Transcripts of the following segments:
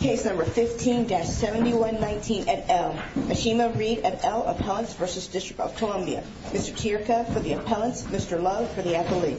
Case No. 15-719 et al. Ashima Reed et al. Appellants v. District of Columbia. Mr. Tirca for the appellants. Mr. Lowe for the athlete.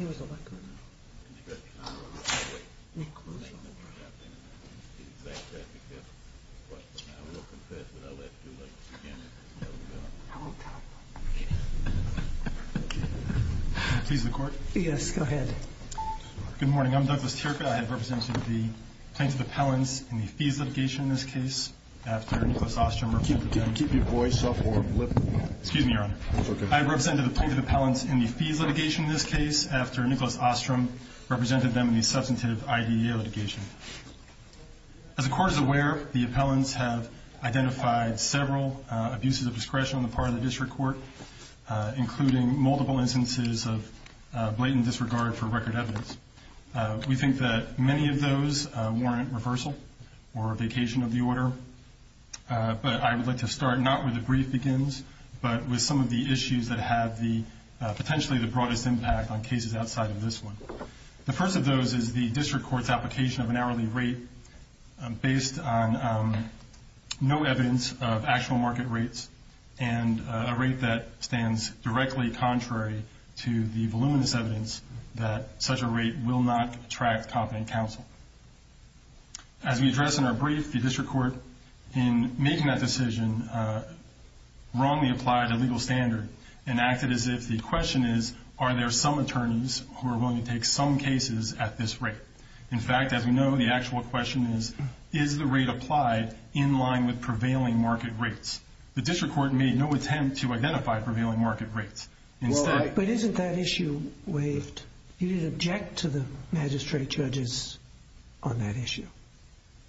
I will confess that I left you like two minutes ago. Please, the court. Yes, go ahead. Good morning. I'm Douglas Tirca. I have represented the plaintiff appellants in the fees litigation in this case after Nicholas Ostrom represented them in the substantive IDEA litigation. As the court is aware, the appellants have identified several abuses of discretion on the part of the district court, including multiple instances of blatant disregard for record evidence. We think that many of those warrant reversal or a vacation of the order. But I would like to start not with the brief begins, but with some of the issues that have the potentially the broadest impact on cases outside of this one. The first of those is the district court's application of an hourly rate based on no evidence of actual market rates and a rate that stands directly contrary to the voluminous evidence that such a rate will not attract competent counsel. As we address in our brief, the district court in making that decision wrongly applied a legal standard and acted as if the question is, are there some attorneys who are willing to take some cases at this rate? In fact, as we know, the actual question is, is the rate applied in line with prevailing market rates? The district court made no attempt to identify prevailing market rates. But isn't that issue waived? You didn't object to the magistrate judges on that issue,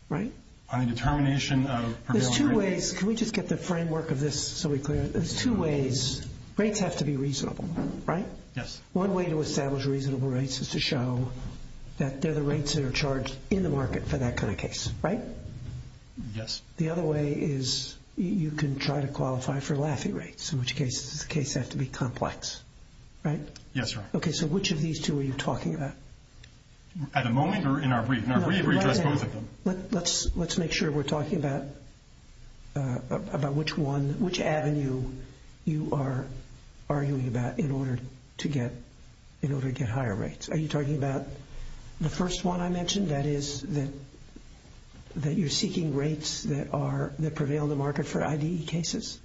right? On a determination of prevailing market rates? There's two ways. Can we just get the framework of this so we clear it? There's two ways. Rates have to be reasonable, right? Yes. One way to establish reasonable rates is to show that they're the rates that are charged in the market for that kind of case, right? Yes. The other way is you can try to qualify for laughing rates, in which case the case has to be complex, right? Yes, sir. Okay, so which of these two are you talking about? At the moment or in our brief? In our brief, we address both of them. Let's make sure we're talking about which one, which avenue you are arguing about in order to get higher rates. Are you talking about the first one I mentioned, that is that you're seeking rates that prevail in the market for IDE cases?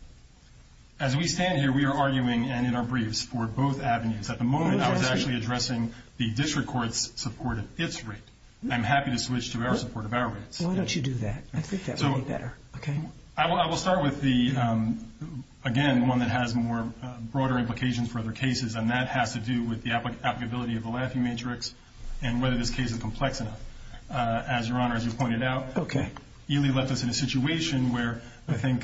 As we stand here, we are arguing, and in our briefs, for both avenues. At the moment, I was actually addressing the district court's support of its rate. I'm happy to switch to our support of our rates. Why don't you do that? I think that would be better, okay? I will start with the, again, one that has more broader implications for other cases, and that has to do with the applicability of the laughing matrix and whether this case is complex enough. As Your Honor, as you pointed out, Ely left us in a situation where, I think,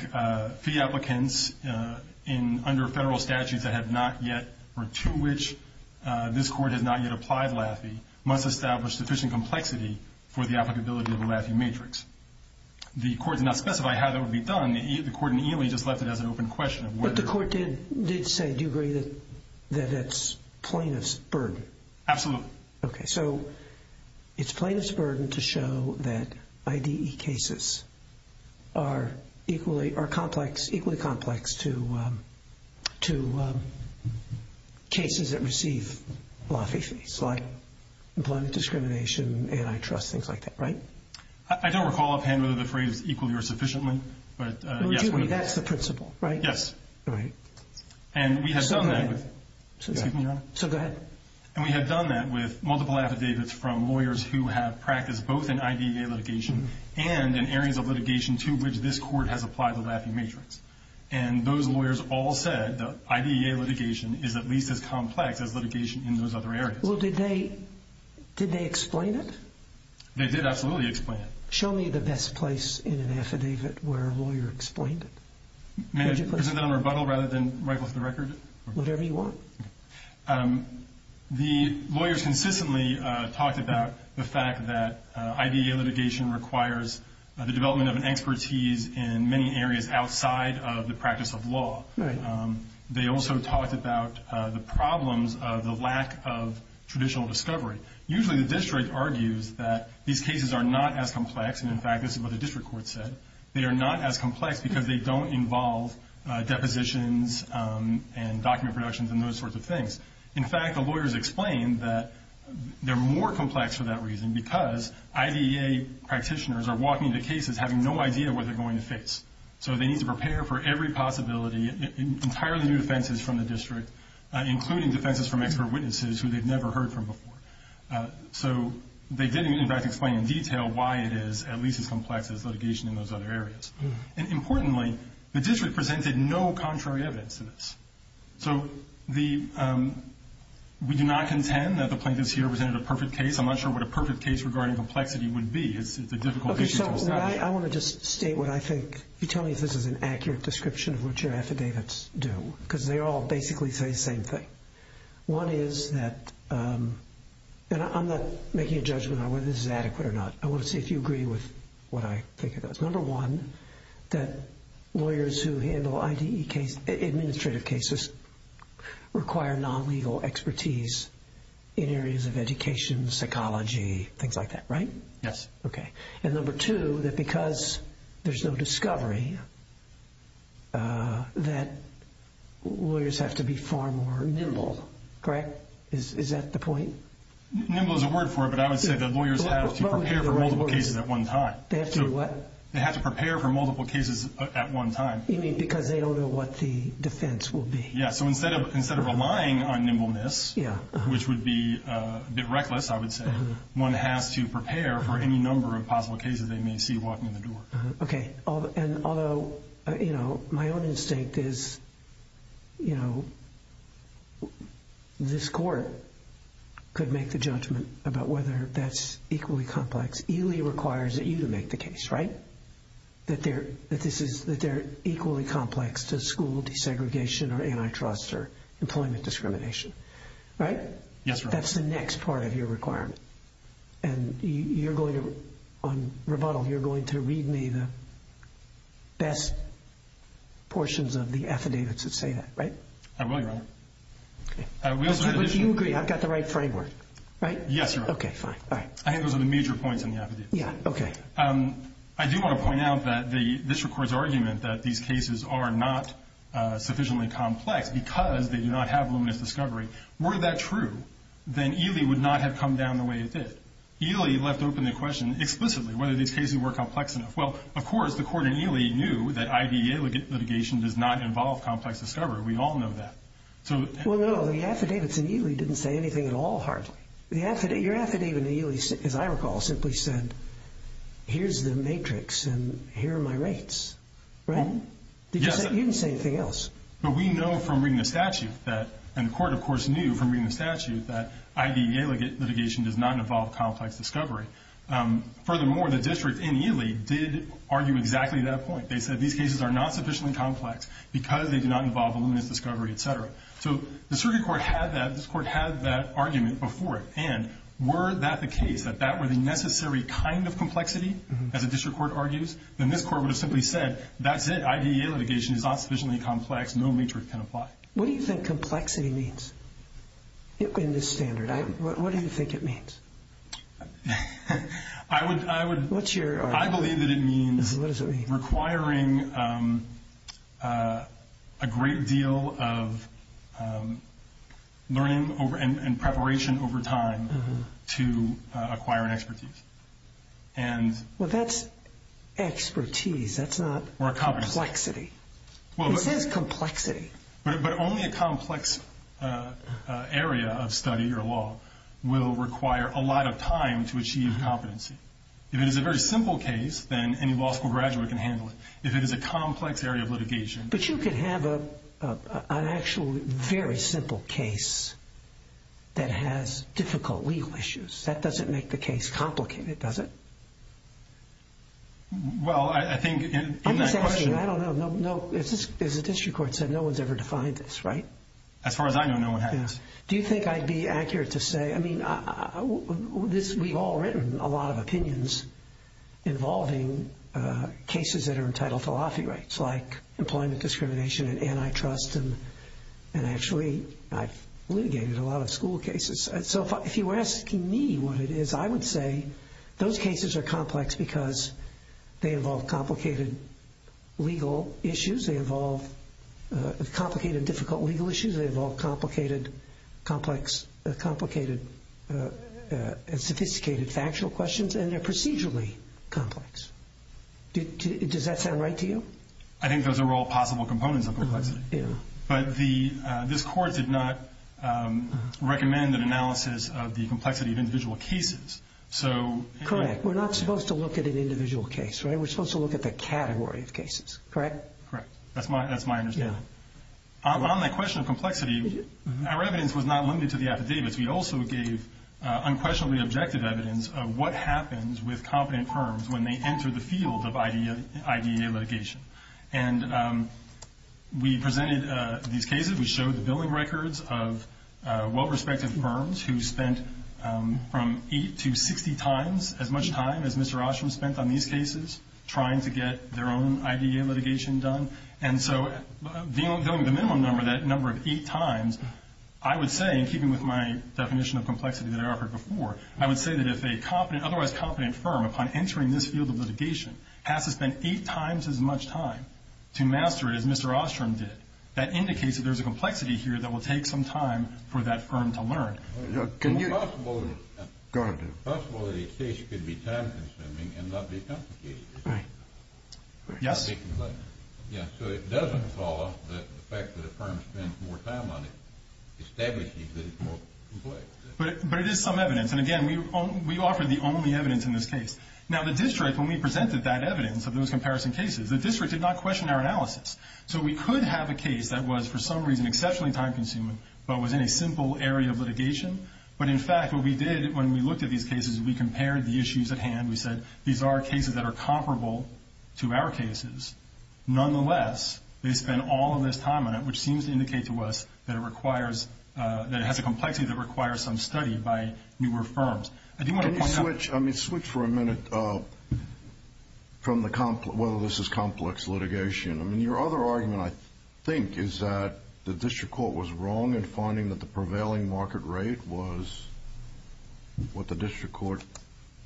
fee applicants under federal statutes that have not yet, or to which this court has not yet applied laughing, must establish sufficient complexity for the applicability of a laughing matrix. The court did not specify how that would be done. The court in Ely just left it as an open question. But the court did say, do you agree, that it's plaintiff's burden? Absolutely. Okay, so it's plaintiff's burden to show that IDE cases are equally complex to cases that receive laughing fees, like employment discrimination, antitrust, things like that, right? I don't recall offhand whether the phrase is equally or sufficiently, but yes. That's the principle, right? Yes. Right. And we have done that with multiple affidavits from lawyers who have practiced both in IDEA litigation and in areas of litigation to which this court has applied the laughing matrix. And those lawyers all said that IDEA litigation is at least as complex as litigation in those other areas. Well, did they explain it? They did absolutely explain it. Show me the best place in an affidavit where a lawyer explained it. May I present that on rebuttal rather than right off the record? Whatever you want. The lawyers consistently talked about the fact that IDEA litigation requires the development of an expertise in many areas outside of the practice of law. Right. They also talked about the problems of the lack of traditional discovery. Usually the district argues that these cases are not as complex. And, in fact, this is what the district court said. They are not as complex because they don't involve depositions and document productions and those sorts of things. In fact, the lawyers explained that they're more complex for that reason because IDEA practitioners are walking into cases having no idea what they're going to face. So they need to prepare for every possibility, entirely new defenses from the district, including defenses from expert witnesses who they've never heard from before. So they did, in fact, explain in detail why it is at least as complex as litigation in those other areas. And, importantly, the district presented no contrary evidence to this. So we do not contend that the plaintiffs here presented a perfect case. I'm not sure what a perfect case regarding complexity would be. It's a difficult issue to establish. Okay, so I want to just state what I think. Can you tell me if this is an accurate description of what your affidavits do? Because they all basically say the same thing. One is that, and I'm not making a judgment on whether this is adequate or not. I want to see if you agree with what I think it does. Number one, that lawyers who handle IDEA case, administrative cases, require non-legal expertise in areas of education, psychology, things like that, right? Yes. Okay, and number two, that because there's no discovery, that lawyers have to be far more nimble, correct? Is that the point? Nimble is a word for it, but I would say that lawyers have to prepare for multiple cases at one time. They have to do what? They have to prepare for multiple cases at one time. You mean because they don't know what the defense will be? Yeah, so instead of relying on nimbleness, which would be a bit reckless, I would say, one has to prepare for any number of possible cases they may see walking in the door. Okay, and although, you know, my own instinct is, you know, this court could make the judgment about whether that's equally complex. ELE requires that you to make the case, right? That they're equally complex to school desegregation or antitrust or employment discrimination, right? Yes, Your Honor. That's the next part of your requirement, and you're going to, on rebuttal, you're going to read me the best portions of the affidavits that say that, right? I will, Your Honor. But you agree I've got the right framework, right? Yes, Your Honor. Okay, fine. I think those are the major points in the affidavits. Yeah, okay. I do want to point out that this court's argument that these cases are not sufficiently complex because they do not have luminous discovery, were that true, then ELE would not have come down the way it did. ELE left open the question explicitly whether these cases were complex enough. Well, of course, the court in ELE knew that IDEA litigation does not involve complex discovery. We all know that. Well, no, the affidavits in ELE didn't say anything at all, hardly. Your affidavit in ELE, as I recall, simply said, here's the matrix and here are my rates, right? Yes. You didn't say anything else. But we know from reading the statute that, and the court, of course, knew from reading the statute, that IDEA litigation does not involve complex discovery. Furthermore, the district in ELE did argue exactly that point. They said these cases are not sufficiently complex because they do not involve luminous discovery, et cetera. So the circuit court had that. This court had that argument before it. And were that the case, that that were the necessary kind of complexity, as a district court argues, then this court would have simply said, that's it. IDEA litigation is not sufficiently complex. No matrix can apply. What do you think complexity means in this standard? What do you think it means? I believe that it means requiring a great deal of learning and preparation over time to acquire an expertise. Well, that's expertise. That's not complexity. It says complexity. But only a complex area of study or law will require a lot of time to achieve competency. If it is a very simple case, then any law school graduate can handle it. If it is a complex area of litigation. But you could have an actual very simple case that has difficult legal issues. That doesn't make the case complicated, does it? Well, I think in that question. I'm just asking. I don't know. As a district court said, no one's ever defined this, right? As far as I know, no one has. Do you think I'd be accurate to say, I mean, we've all written a lot of opinions involving cases that are entitled to lofty rights, like employment discrimination and antitrust. And actually, I've litigated a lot of school cases. So if you were asking me what it is, I would say those cases are complex because they involve complicated legal issues. They involve complicated and difficult legal issues. They involve complicated and sophisticated factual questions. And they're procedurally complex. Does that sound right to you? I think those are all possible components of complexity. But this court did not recommend an analysis of the complexity of individual cases. Correct. We're not supposed to look at an individual case, right? We're supposed to look at the category of cases, correct? Correct. That's my understanding. On the question of complexity, our evidence was not limited to the affidavits. We also gave unquestionably objective evidence of what happens with competent firms when they enter the field of IDEA litigation. And we presented these cases. We showed the billing records of well-respected firms who spent from eight to 60 times as much time as Mr. Oshum spent on these cases, trying to get their own IDEA litigation done. And so billing the minimum number, that number of eight times, I would say, in keeping with my definition of complexity that I offered before, I would say that if an otherwise competent firm, upon entering this field of litigation, has to spend eight times as much time to master it as Mr. Oshum did, that indicates that there's a complexity here that will take some time for that firm to learn. It's possible that a case could be time-consuming and not be complicated. Right. Yes? So it doesn't follow that the fact that a firm spends more time on it establishes that it's more complex. But it is some evidence. And, again, we offered the only evidence in this case. Now, the district, when we presented that evidence of those comparison cases, the district did not question our analysis. So we could have a case that was, for some reason, exceptionally time-consuming but was in a simple area of litigation. But, in fact, what we did when we looked at these cases, we compared the issues at hand. We said, these are cases that are comparable to our cases. Nonetheless, they spend all of this time on it, which seems to indicate to us that it requires, that it has a complexity that requires some study by newer firms. Can you switch, I mean, switch for a minute from the, whether this is complex litigation. I mean, your other argument, I think, is that the district court was wrong in finding that the prevailing market rate was what the district court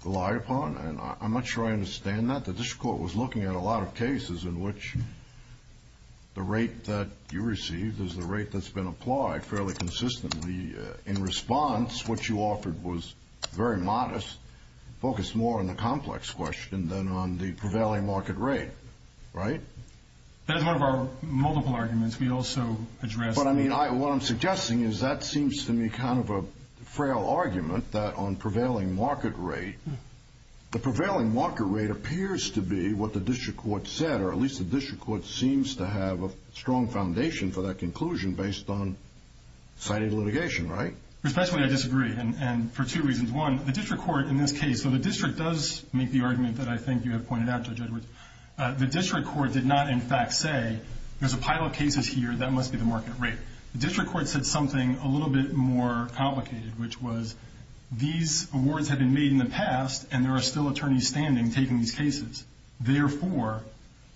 relied upon. And I'm not sure I understand that. The district court was looking at a lot of cases in which the rate that you received is the rate that's been applied fairly consistently. In response, what you offered was very modest, focused more on the complex question than on the prevailing market rate. Right? That's one of our multiple arguments. We also addressed. But, I mean, what I'm suggesting is that seems to me kind of a frail argument that on prevailing market rate, the prevailing market rate appears to be what the district court said, or at least the district court seems to have a strong foundation for that conclusion based on cited litigation. Right? Especially, I disagree. And for two reasons. One, the district court in this case, so the district does make the argument that I think you have pointed out, Judge Edwards. The district court did not, in fact, say there's a pile of cases here that must be the market rate. The district court said something a little bit more complicated, which was these awards have been made in the past, and there are still attorneys standing taking these cases. Therefore,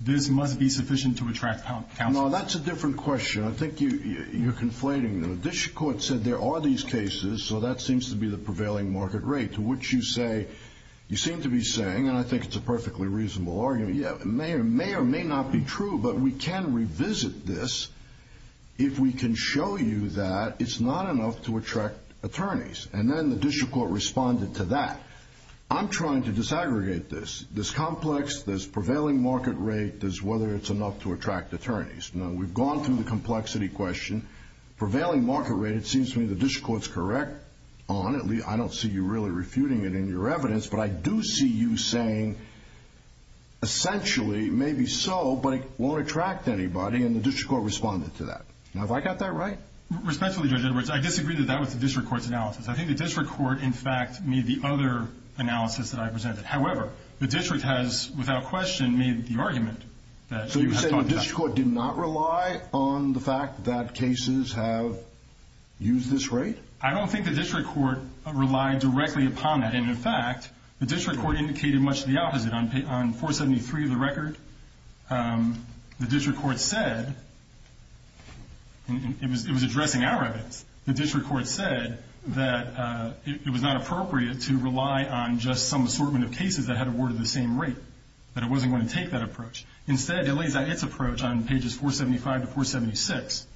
this must be sufficient to attract counsel. No, that's a different question. I think you're conflating them. The district court said there are these cases, so that seems to be the prevailing market rate, to which you say, you seem to be saying, and I think it's a perfectly reasonable argument, may or may not be true, but we can revisit this if we can show you that it's not enough to attract attorneys. And then the district court responded to that. I'm trying to disaggregate this. There's complex, there's prevailing market rate, there's whether it's enough to attract attorneys. Now, we've gone through the complexity question. Prevailing market rate, it seems to me the district court's correct on it. I don't see you really refuting it in your evidence, but I do see you saying, essentially, maybe so, but it won't attract anybody, and the district court responded to that. Now, have I got that right? Respectfully, Judge Edwards, I disagree that that was the district court's analysis. I think the district court, in fact, made the other analysis that I presented. However, the district has, without question, made the argument. So you're saying the district court did not rely on the fact that cases have used this rate? I don't think the district court relied directly upon that. And, in fact, the district court indicated much the opposite. On 473 of the record, the district court said, and it was addressing our evidence, the district court said that it was not appropriate to rely on just some assortment of cases that had awarded the same rate, that it wasn't going to take that approach. Instead, it lays out its approach on pages 475 to 476.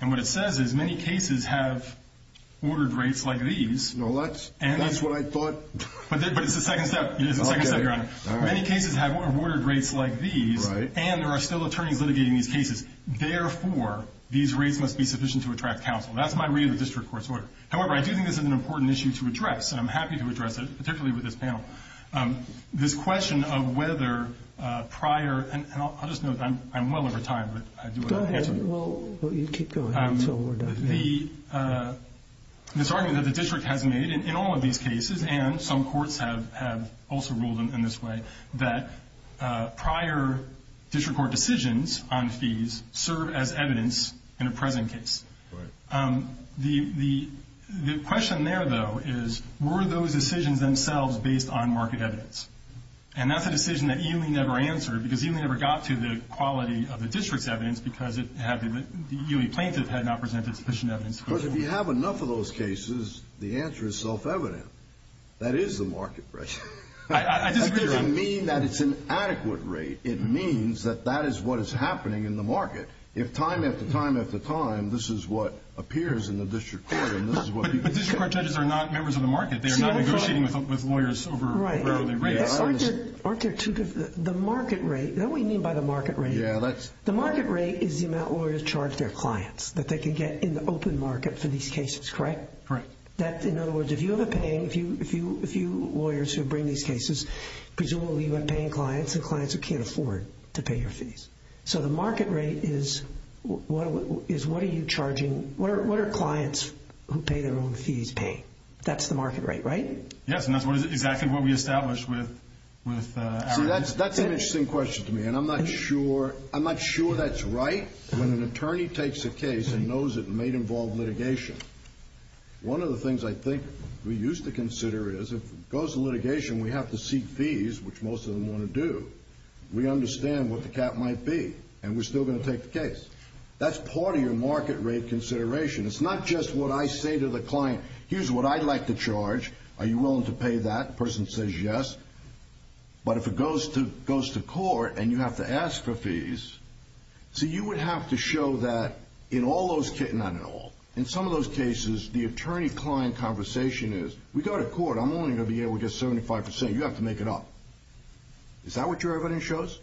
And what it says is many cases have ordered rates like these. That's what I thought. But it's the second step, Your Honor. Many cases have ordered rates like these, and there are still attorneys litigating these cases. Therefore, these rates must be sufficient to attract counsel. That's my read of the district court's order. However, I do think this is an important issue to address, and I'm happy to address it, particularly with this panel. This question of whether prior, and I'll just note that I'm well over time, but I do want to answer it. Well, you keep going until we're done. This argument that the district has made in all of these cases, and some courts have also ruled in this way, that prior district court decisions on fees serve as evidence in a present case. The question there, though, is were those decisions themselves based on market evidence? And that's a decision that Ely never answered because Ely never got to the quality of the district's evidence because Ely plaintiff had not presented sufficient evidence. Because if you have enough of those cases, the answer is self-evident. That is the market pressure. I disagree, Your Honor. That doesn't mean that it's an adequate rate. It means that that is what is happening in the market. If time after time after time, this is what appears in the district court, and this is what you get. But district court judges are not members of the market. They are not negotiating with lawyers over hourly rates. Right. The market rate, is that what you mean by the market rate? Yeah. The market rate is the amount lawyers charge their clients that they can get in the open market for these cases, correct? Correct. In other words, if you have a paying, if you lawyers who bring these cases, presumably you're paying clients and clients who can't afford to pay your fees. So the market rate is what are you charging, what are clients who pay their own fees paying? That's the market rate, right? Yes, and that's exactly what we established with our district. See, that's an interesting question to me, and I'm not sure that's right. When an attorney takes a case and knows it may involve litigation, one of the things I think we used to consider is if it goes to litigation, we have to seek fees, which most of them want to do. We understand what the cap might be, and we're still going to take the case. That's part of your market rate consideration. It's not just what I say to the client. Here's what I'd like to charge. Are you willing to pay that? The person says yes. But if it goes to court and you have to ask for fees, see, you would have to show that in all those cases, not in all, in some of those cases the attorney-client conversation is we go to court, I'm only going to be able to get 75%. You have to make it up. Is that what your evidence shows?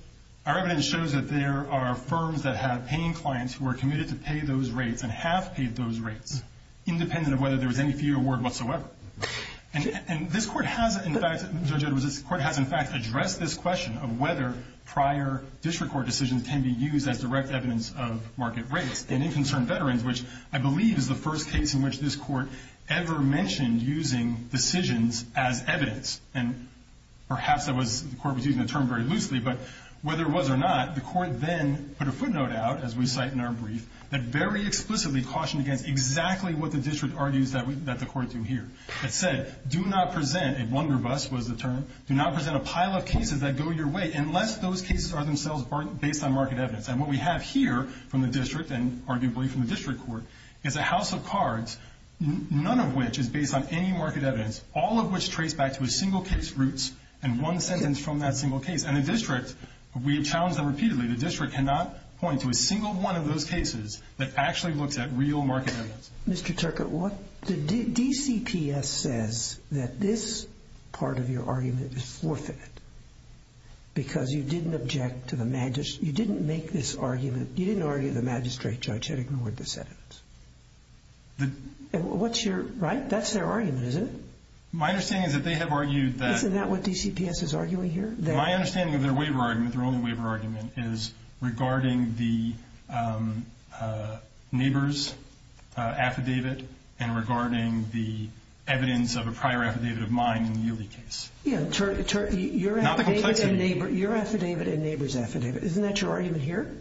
Our evidence shows that there are firms that have paying clients who are committed to pay those rates and have paid those rates, independent of whether there was any fee award whatsoever. And this Court has, in fact, Judge Edwards, this Court has, in fact, addressed this question of whether prior district court decisions can be used as direct evidence of market rates. And in Concerned Veterans, which I believe is the first case in which this Court ever mentioned using decisions as evidence, and perhaps the Court was using the term very loosely, but whether it was or not, the Court then put a footnote out, as we cite in our brief, that very explicitly cautioned against exactly what the district argues that the Court do here. It said, do not present a wonder bus, was the term, do not present a pile of cases that go your way unless those cases are themselves based on market evidence. And what we have here from the district and arguably from the district court is a house of cards, none of which is based on any market evidence, all of which trace back to a single case roots and one sentence from that single case. And the district, we have challenged them repeatedly, the district cannot point to a single one of those cases that actually looks at real market evidence. Mr. Turcotte, what the DCPS says that this part of your argument is forfeit because you didn't object to the magistrate, you didn't make this argument, you didn't argue the magistrate judge had ignored this evidence. What's your, right? That's their argument, isn't it? My understanding is that they have argued that Isn't that what DCPS is arguing here? My understanding of their waiver argument, their only waiver argument, is regarding the neighbor's affidavit and regarding the evidence of a prior affidavit of mine in the Yieldy case. Yeah, your affidavit and neighbor's affidavit. Isn't that your argument here?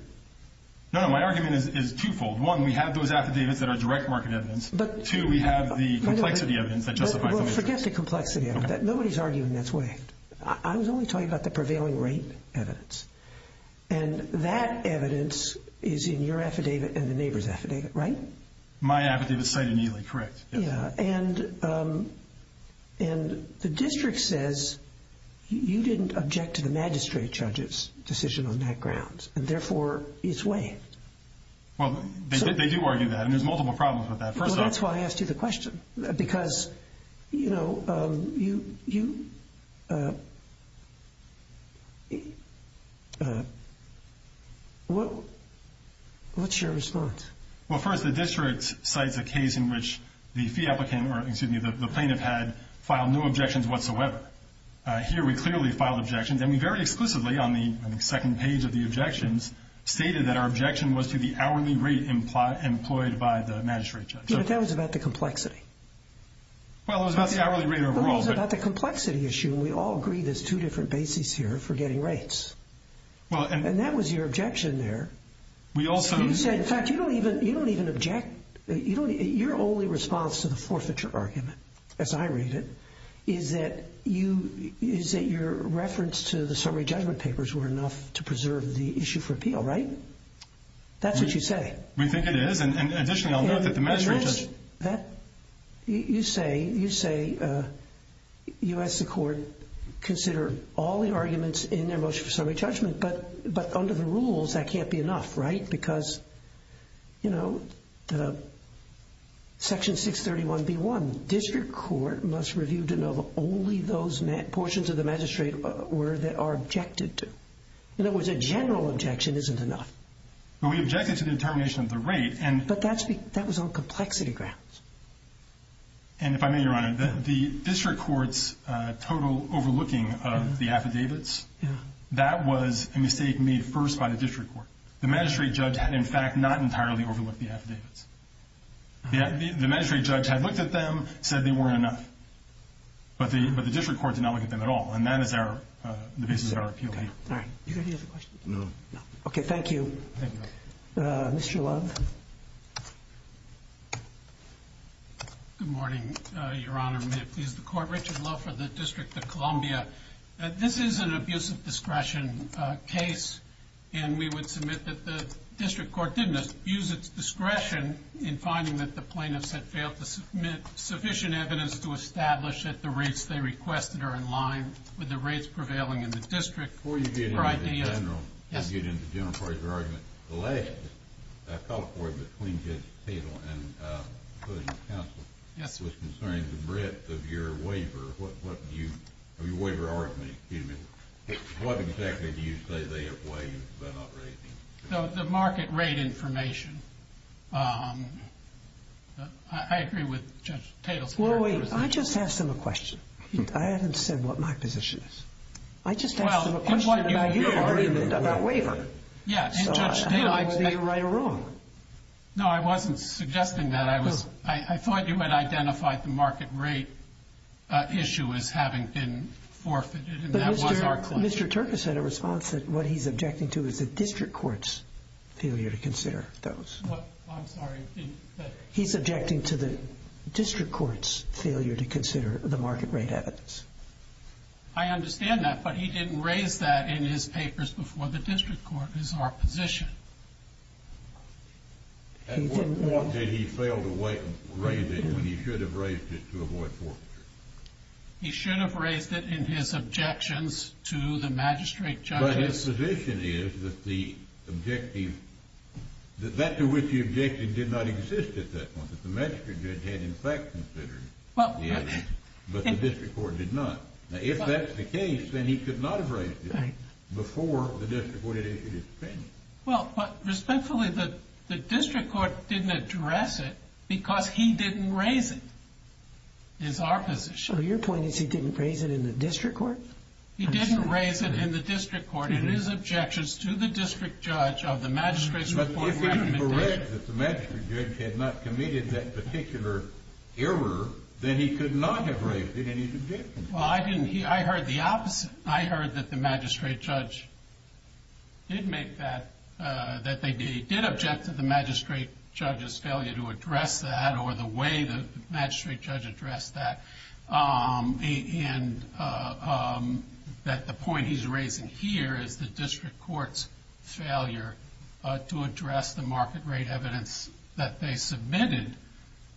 No, no, my argument is twofold. One, we have those affidavits that are direct market evidence. Two, we have the complexity evidence that justifies the magistrates. Well, forget the complexity evidence. Nobody's arguing that's waived. I was only talking about the prevailing rate evidence. And that evidence is in your affidavit and the neighbor's affidavit, right? My affidavit is cited in Yieldy, correct. Yeah, and the district says you didn't object to the magistrate judge's decision on that grounds and therefore it's waived. Well, they do argue that and there's multiple problems with that. Well, that's why I asked you the question because, you know, what's your response? Well, first, the district cites a case in which the fee applicant or, excuse me, the plaintiff had filed no objections whatsoever. Here we clearly filed objections, and we very exclusively on the second page of the objections stated that our objection was to the hourly rate employed by the magistrate judge. Yeah, but that was about the complexity. Well, it was about the hourly rate overall. Well, it was about the complexity issue, and we all agreed there's two different bases here for getting rates. And that was your objection there. You said, in fact, you don't even object. Your only response to the forfeiture argument, as I read it, is that your reference to the summary judgment papers were enough to preserve the issue for appeal, right? That's what you say. We think it is, and additionally, I'll note that the magistrate judge— You say you ask the court to consider all the arguments in their motion for summary judgment, but under the rules that can't be enough, right? Because, you know, Section 631B1, district court must review to know that only those portions of the magistrate were that are objected to. In other words, a general objection isn't enough. But we objected to the determination of the rate, and— But that was on complexity grounds. And if I may, Your Honor, the district court's total overlooking of the affidavits, that was a mistake made first by the district court. The magistrate judge had, in fact, not entirely overlooked the affidavits. The magistrate judge had looked at them, said they weren't enough. But the district court did not look at them at all, and that is the basis of our appeal. All right. Do you have any other questions? No. Okay, thank you. Thank you. Mr. Love. May it please the court, Richard Love for the District of Columbia. This is an abuse of discretion case, and we would submit that the district court didn't abuse its discretion in finding that the plaintiffs had failed to submit sufficient evidence to establish that the rates they requested are in line with the rates prevailing in the district. Before you get into the general— Yes. Before you get into the general part of your argument, the last call forward between Judge Tatel and Judge Counsel was concerning the breadth of your waiver. Your waiver argument, excuse me. What exactly do you say they have waived by not raising? The market rate information. I agree with Judge Tatel's position. Well, wait. I just asked him a question. I haven't said what my position is. I just asked him a question about your argument about waiver. Yes, and Judge Tatel— So I don't know whether you're right or wrong. No, I wasn't suggesting that. I thought you had identified the market rate issue as having been forfeited, and that was our claim. But Mr. Turkus had a response that what he's objecting to is the district court's failure to consider those. I'm sorry. He's objecting to the district court's failure to consider the market rate evidence. I understand that, but he didn't raise that in his papers before the district court is our position. At what point did he fail to raise it when he should have raised it to avoid forfeiture? He should have raised it in his objections to the magistrate judge's— But his position is that the objective—that to which he objected did not exist at that point. The magistrate judge had, in fact, considered the evidence, but the district court did not. If that's the case, then he could not have raised it before the district court had issued its opinion. Well, but respectfully, the district court didn't address it because he didn't raise it, is our position. So your point is he didn't raise it in the district court? He didn't raise it in the district court in his objections to the district judge of the magistrate's report recommendation. But if he had read that the magistrate judge had not committed that particular error, then he could not have raised it in his objections. Well, I didn't—I heard the opposite. I heard that the magistrate judge did make that—that they did object to the magistrate judge's failure to address that or the way the magistrate judge addressed that. And that the point he's raising here is the district court's failure to address the market rate evidence that they submitted.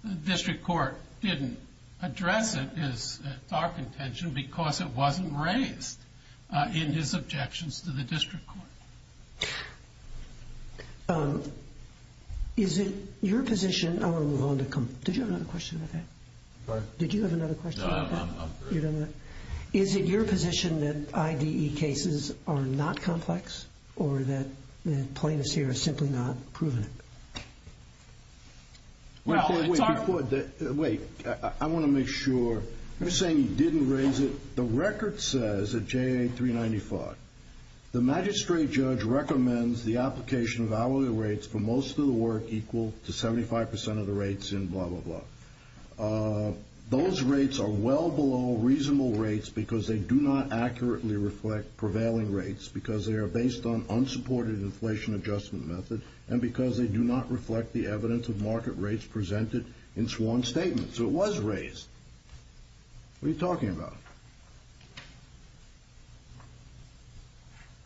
The district court didn't address it, is our contention, because it wasn't raised in his objections to the district court. Is it your position—I want to move on to—did you have another question about that? Sorry? Did you have another question about that? No, I'm good. Wait, I want to make sure. You're saying he didn't raise it. The record says at JA 395, the magistrate judge recommends the application of hourly rates for most of the work equal to 75 percent of the rates in blah, blah, blah. Those rates are well below reasonable rates because they do not accurately reflect prevailing rates, because they are based on unsupported inflation adjustment methods, and because they do not reflect the evidence of market rates presented in sworn statements. So it was raised. What are you talking about?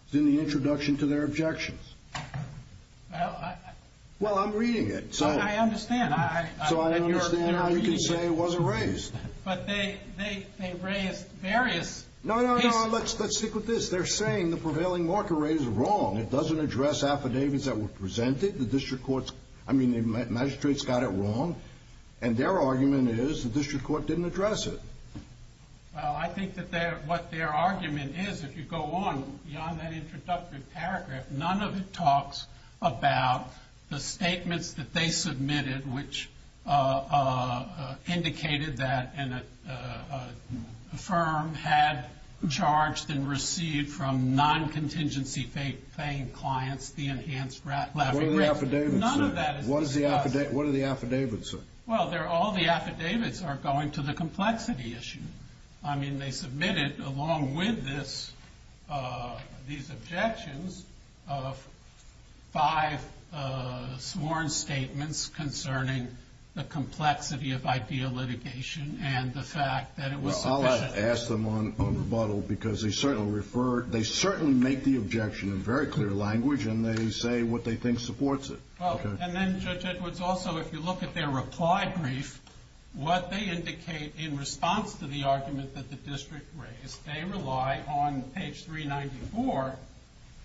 It's in the introduction to their objections. Well, I— Well, I'm reading it, so— I understand. So I understand why you can say it wasn't raised. But they—they raised various— No, no, no. Let's stick with this. They're saying the prevailing market rate is wrong. It doesn't address affidavits that were presented. The district court's—I mean, the magistrate's got it wrong, and their argument is the district court didn't address it. Well, I think that their—what their argument is, if you go on beyond that introductory paragraph, none of it talks about the statements that they submitted, which indicated that a firm had charged and received from non-contingency-paying clients the enhanced— What are the affidavits, sir? None of that is discussed. What are the affidavits, sir? Well, they're—all the affidavits are going to the complexity issue. I mean, they submitted, along with this—these objections, five sworn statements concerning the complexity of ideal litigation and the fact that it was sufficient. Well, I'll ask them on rebuttal because they certainly referred—they certainly make the objection in very clear language, and they say what they think supports it. Okay. And then, Judge Edwards, also, if you look at their reply brief, what they indicate in response to the argument that the district raised, they rely on page 394,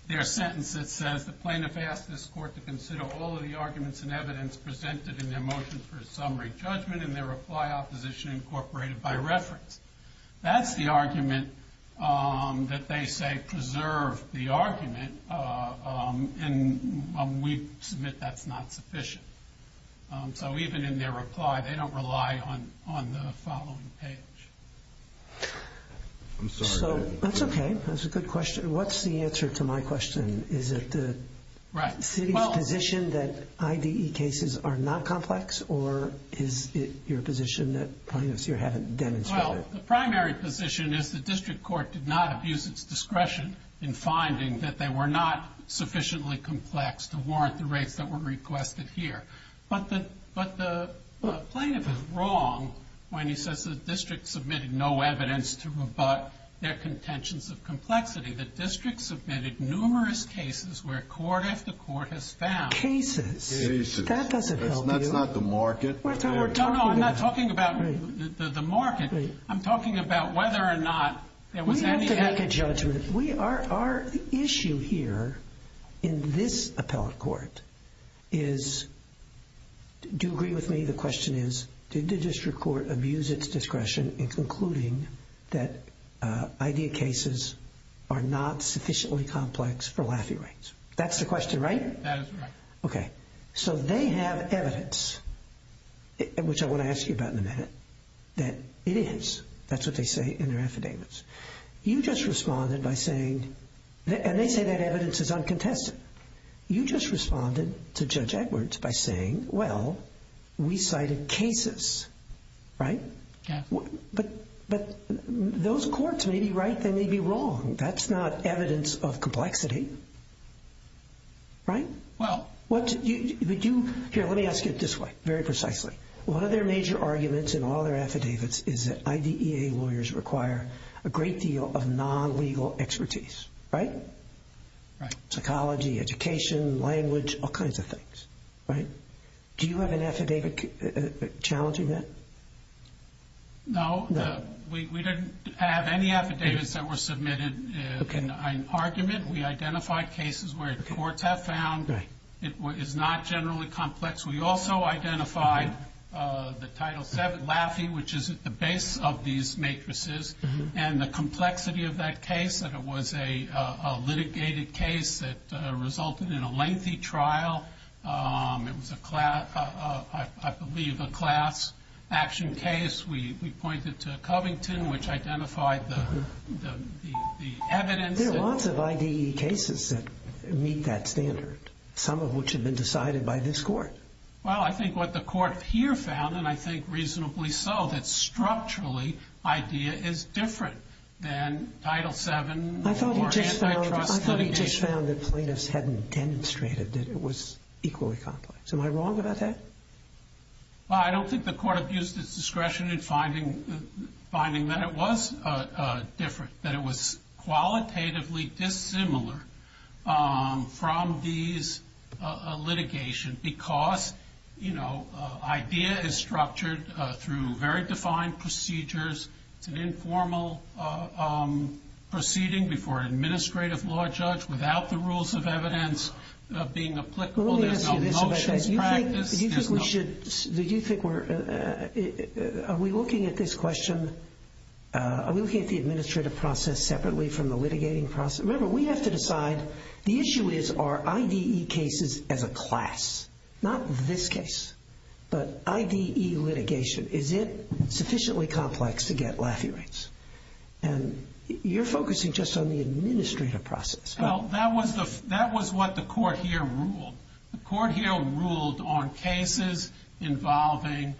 their sentence that says, The plaintiff asked this court to consider all of the arguments and evidence presented in their motion for a summary judgment and their reply opposition incorporated by reference. That's the argument that they say preserved the argument, and we submit that's not sufficient. So even in their reply, they don't rely on the following page. I'm sorry. That's okay. That's a good question. What's the answer to my question? Is it the city's position that IDE cases are not complex, or is it your position that plaintiffs here haven't demonstrated it? Well, the primary position is the district court did not abuse its discretion in finding that they were not sufficiently complex to warrant the rates that were requested here. But the plaintiff is wrong when he says the district submitted no evidence to rebut their contentions of complexity. The district submitted numerous cases where court after court has found— Cases? Cases. That doesn't help you. That's not the market. No, no, I'm not talking about the market. I'm talking about whether or not there was any— We have to make a judgment. Our issue here in this appellate court is—do you agree with me? The question is, did the district court abuse its discretion in concluding that IDE cases are not sufficiently complex for Lafey rates? That's the question, right? That is right. Okay. So they have evidence, which I want to ask you about in a minute, that it is. That's what they say in their affidavits. You just responded by saying—and they say that evidence is uncontested. You just responded to Judge Edwards by saying, well, we cited cases, right? Yeah. But those courts may be right. They may be wrong. That's not evidence of complexity, right? Well— Here, let me ask you this way, very precisely. One of their major arguments in all their affidavits is that IDEA lawyers require a great deal of non-legal expertise, right? Right. Psychology, education, language, all kinds of things, right? Do you have an affidavit challenging that? No. We didn't have any affidavits that were submitted in argument. We identified cases where the courts have found it is not generally complex. We also identified the Title VII Laffey, which is at the base of these matrices, and the complexity of that case, that it was a litigated case that resulted in a lengthy trial. It was, I believe, a class action case. We pointed to Covington, which identified the evidence. But there are lots of IDEA cases that meet that standard, some of which have been decided by this court. Well, I think what the court here found, and I think reasonably so, that structurally IDEA is different than Title VII or antitrust litigation. I thought he just found that plaintiffs hadn't demonstrated that it was equally complex. Am I wrong about that? I don't think the court abused its discretion in finding that it was different, that it was qualitatively dissimilar from these litigation because IDEA is structured through very defined procedures. It's an informal proceeding before an administrative law judge without the rules of evidence being applicable. Well, let me ask you this. Do you think we should, are we looking at this question, are we looking at the administrative process separately from the litigating process? Remember, we have to decide, the issue is, are IDEA cases as a class? Not this case, but IDEA litigation, is it sufficiently complex to get Laffey rates? And you're focusing just on the administrative process. Well, that was what the court here ruled. The court here ruled on cases involving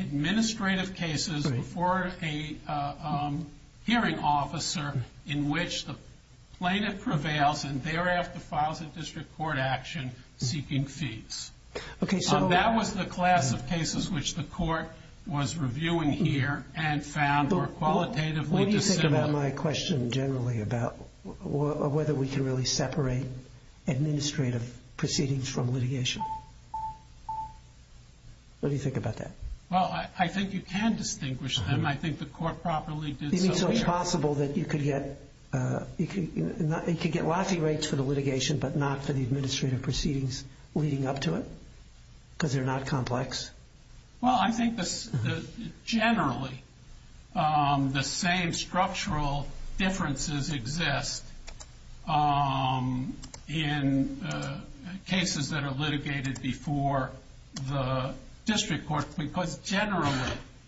administrative cases before a hearing officer in which the plaintiff prevails and thereafter files a district court action seeking fees. That was the class of cases which the court was reviewing here and found were qualitatively dissimilar. It's about my question generally about whether we can really separate administrative proceedings from litigation. What do you think about that? Well, I think you can distinguish them. I think the court properly did so here. You mean so it's possible that you could get Laffey rates for the litigation but not for the administrative proceedings leading up to it because they're not complex? Well, I think generally the same structural differences exist in cases that are litigated before the district court because generally,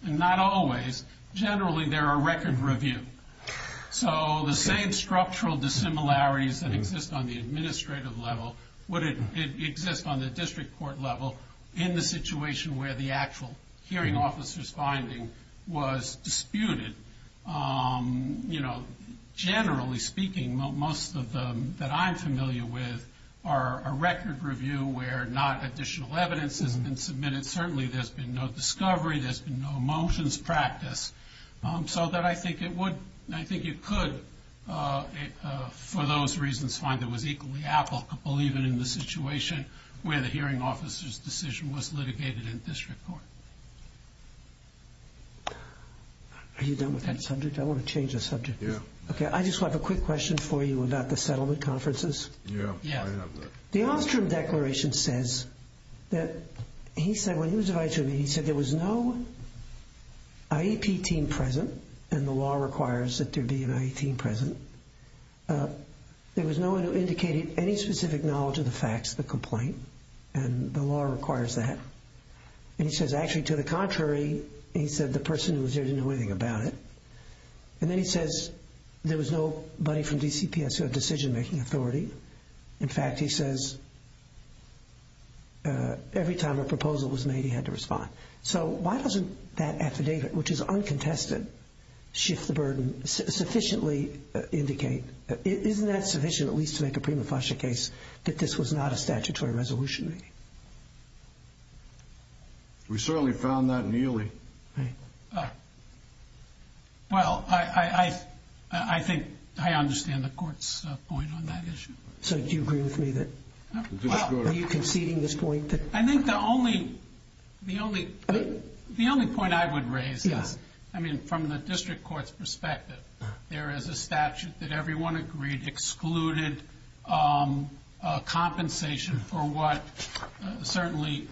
not always, generally they're a record review. So the same structural dissimilarities that exist on the administrative level would exist on the district court level in the situation where the actual hearing officer's finding was disputed. Generally speaking, most of them that I'm familiar with are a record review where not additional evidence has been submitted. Certainly there's been no discovery. There's been no motions practiced. So I think you could, for those reasons, find that it was equally applicable even in the situation where the hearing officer's decision was litigated in district court. Are you done with that subject? I want to change the subject. Yeah. Okay, I just have a quick question for you about the settlement conferences. Yeah, I have that. The Ostrom Declaration says that he said when he was advised of me, he said there was no IEP team present and the law requires that there be an IEP team present. There was no one who indicated any specific knowledge of the facts of the complaint and the law requires that. And he says actually to the contrary, he said the person who was there didn't know anything about it. And then he says there was nobody from DCPS who had decision-making authority. In fact, he says every time a proposal was made, he had to respond. So why doesn't that affidavit, which is uncontested, shift the burden sufficiently, indicate isn't that sufficient at least to make a prima facie case that this was not a statutory resolution? We certainly found that nearly. Right. Well, I think I understand the court's point on that issue. So do you agree with me that? Are you conceding this point? I think the only point I would raise is, I mean, from the district court's perspective, there is a statute that everyone agreed excluded compensation for what certainly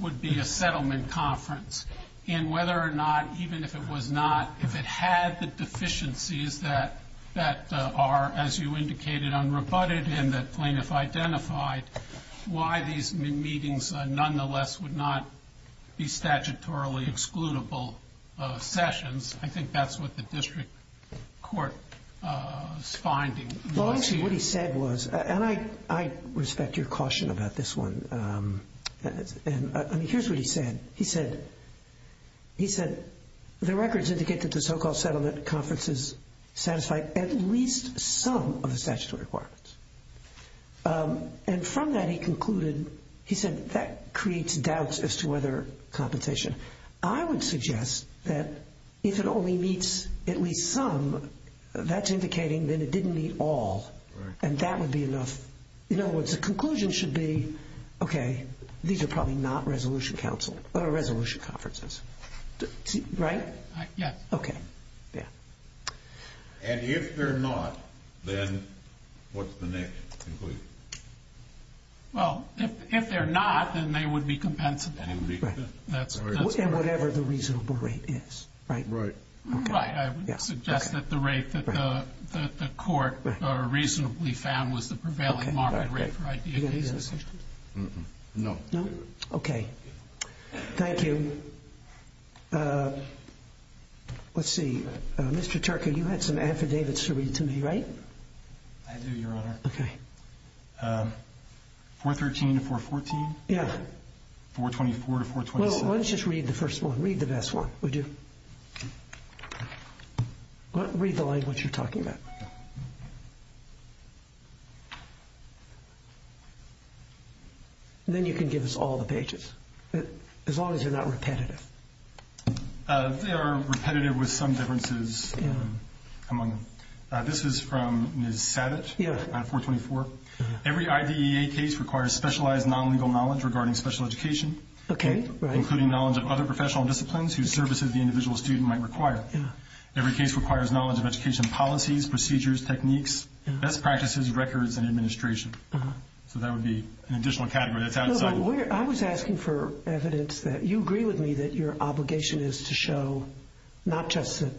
would be a settlement conference in whether or not, even if it was not, if it had the deficiencies that are, as you indicated, unrebutted and that plaintiff identified, why these meetings nonetheless would not be statutorily excludable sessions. I think that's what the district court's finding. Well, actually, what he said was, and I respect your caution about this one. I mean, here's what he said. He said the records indicate that the so-called settlement conferences satisfied at least some of the statutory requirements. And from that, he concluded, he said that creates doubts as to whether compensation. I would suggest that if it only meets at least some, that's indicating that it didn't meet all. Right. And that would be enough. In other words, the conclusion should be, okay, these are probably not resolution conferences. Right? Yes. Okay. Yeah. And if they're not, then what's the next conclusion? Well, if they're not, then they would be compensable. And whatever the reasonable rate is. Right. Right. I would suggest that the rate that the court reasonably found was the prevailing market rate for idea cases. No. No? Okay. Thank you. Let's see. Mr. Turco, you had some affidavits to read to me, right? I do, Your Honor. Okay. 413 to 414? Yeah. 424 to 427? Well, let's just read the first one. Read the best one, would you? Read the language you're talking about. Then you can give us all the pages. As long as they're not repetitive. They are repetitive with some differences among them. This is from Ms. Sabat on 424. Every IDEA case requires specialized non-legal knowledge regarding special education. Okay. Including knowledge of other professional disciplines whose services the individual student might require. Every case requires knowledge of education policies, procedures, techniques, best practices, records, and administration. So that would be an additional category that's outside. I was asking for evidence that you agree with me that your obligation is to show not just that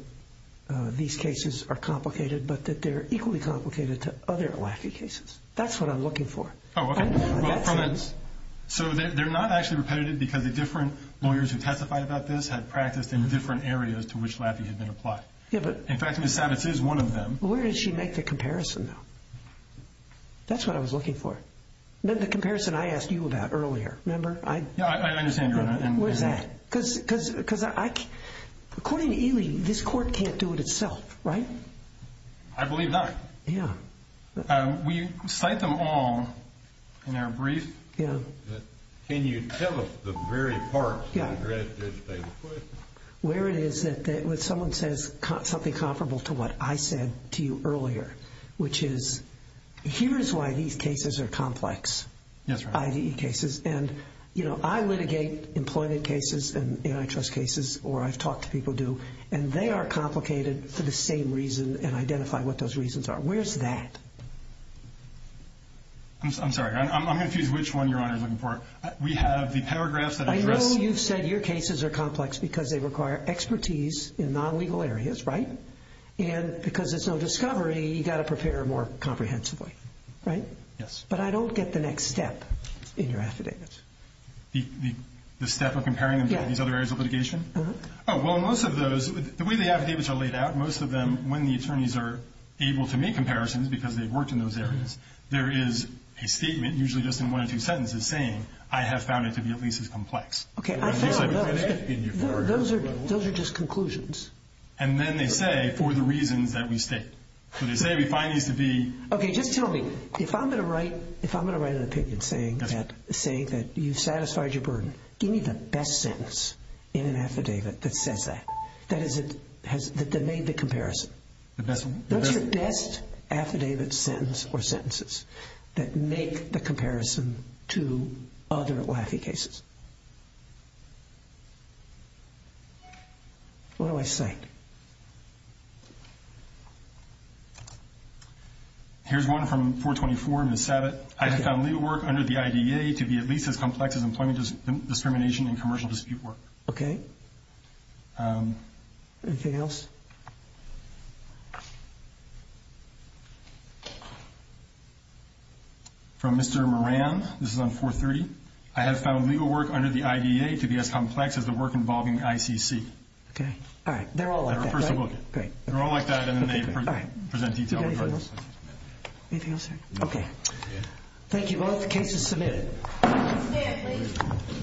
these cases are complicated, but that they're equally complicated to other LACI cases. That's what I'm looking for. Oh, okay. So they're not actually repetitive because the different lawyers who testified about this had practiced in different areas to which LAPI had been applied. In fact, Ms. Sabat is one of them. Where did she make the comparison, though? That's what I was looking for. The comparison I asked you about earlier, remember? Yeah, I understand, Your Honor. Where's that? Because according to Ely, this court can't do it itself, right? I believe not. Yeah. Will you cite them all in our brief? Yeah. Can you tell us the very parts that they put? Where it is that when someone says something comparable to what I said to you earlier, which is, here's why these cases are complex. Yes, Your Honor. IDE cases. And, you know, I litigate employment cases and antitrust cases, or I've talked to people who do, and they are complicated for the same reason and identify what those reasons are. Where's that? I'm sorry. I'm confused which one Your Honor is looking for. We have the paragraphs that address. I know you've said your cases are complex because they require expertise in non-legal areas, right? And because there's no discovery, you've got to prepare more comprehensively, right? Yes. But I don't get the next step in your affidavits. The step of comparing them to these other areas of litigation? Uh-huh. Oh, well, most of those, the way the affidavits are laid out, most of them, when the attorneys are able to make comparisons because they've worked in those areas, there is a statement, usually just in one or two sentences, saying, I have found it to be at least as complex. Okay. Those are just conclusions. And then they say, for the reasons that we state. So they say we find these to be... Okay, just tell me, if I'm going to write an opinion saying that you've satisfied your burden, give me the best sentence in an affidavit that says that. That is, that made the comparison. The best one? Those are the best affidavit sentence or sentences that make the comparison to other LAFI cases. What do I cite? Here's one from 424, Ms. Sabat. I have found legal work under the IDEA to be at least as complex as employment discrimination and commercial dispute work. Okay. Anything else? From Mr. Moran. This is on 430. I have found legal work under the IDEA to be as complex as the work involving ICC. Okay. All right. They're all like that, right? They're all like that, and then they present details. Anything else? Okay. Thank you both. The case is submitted.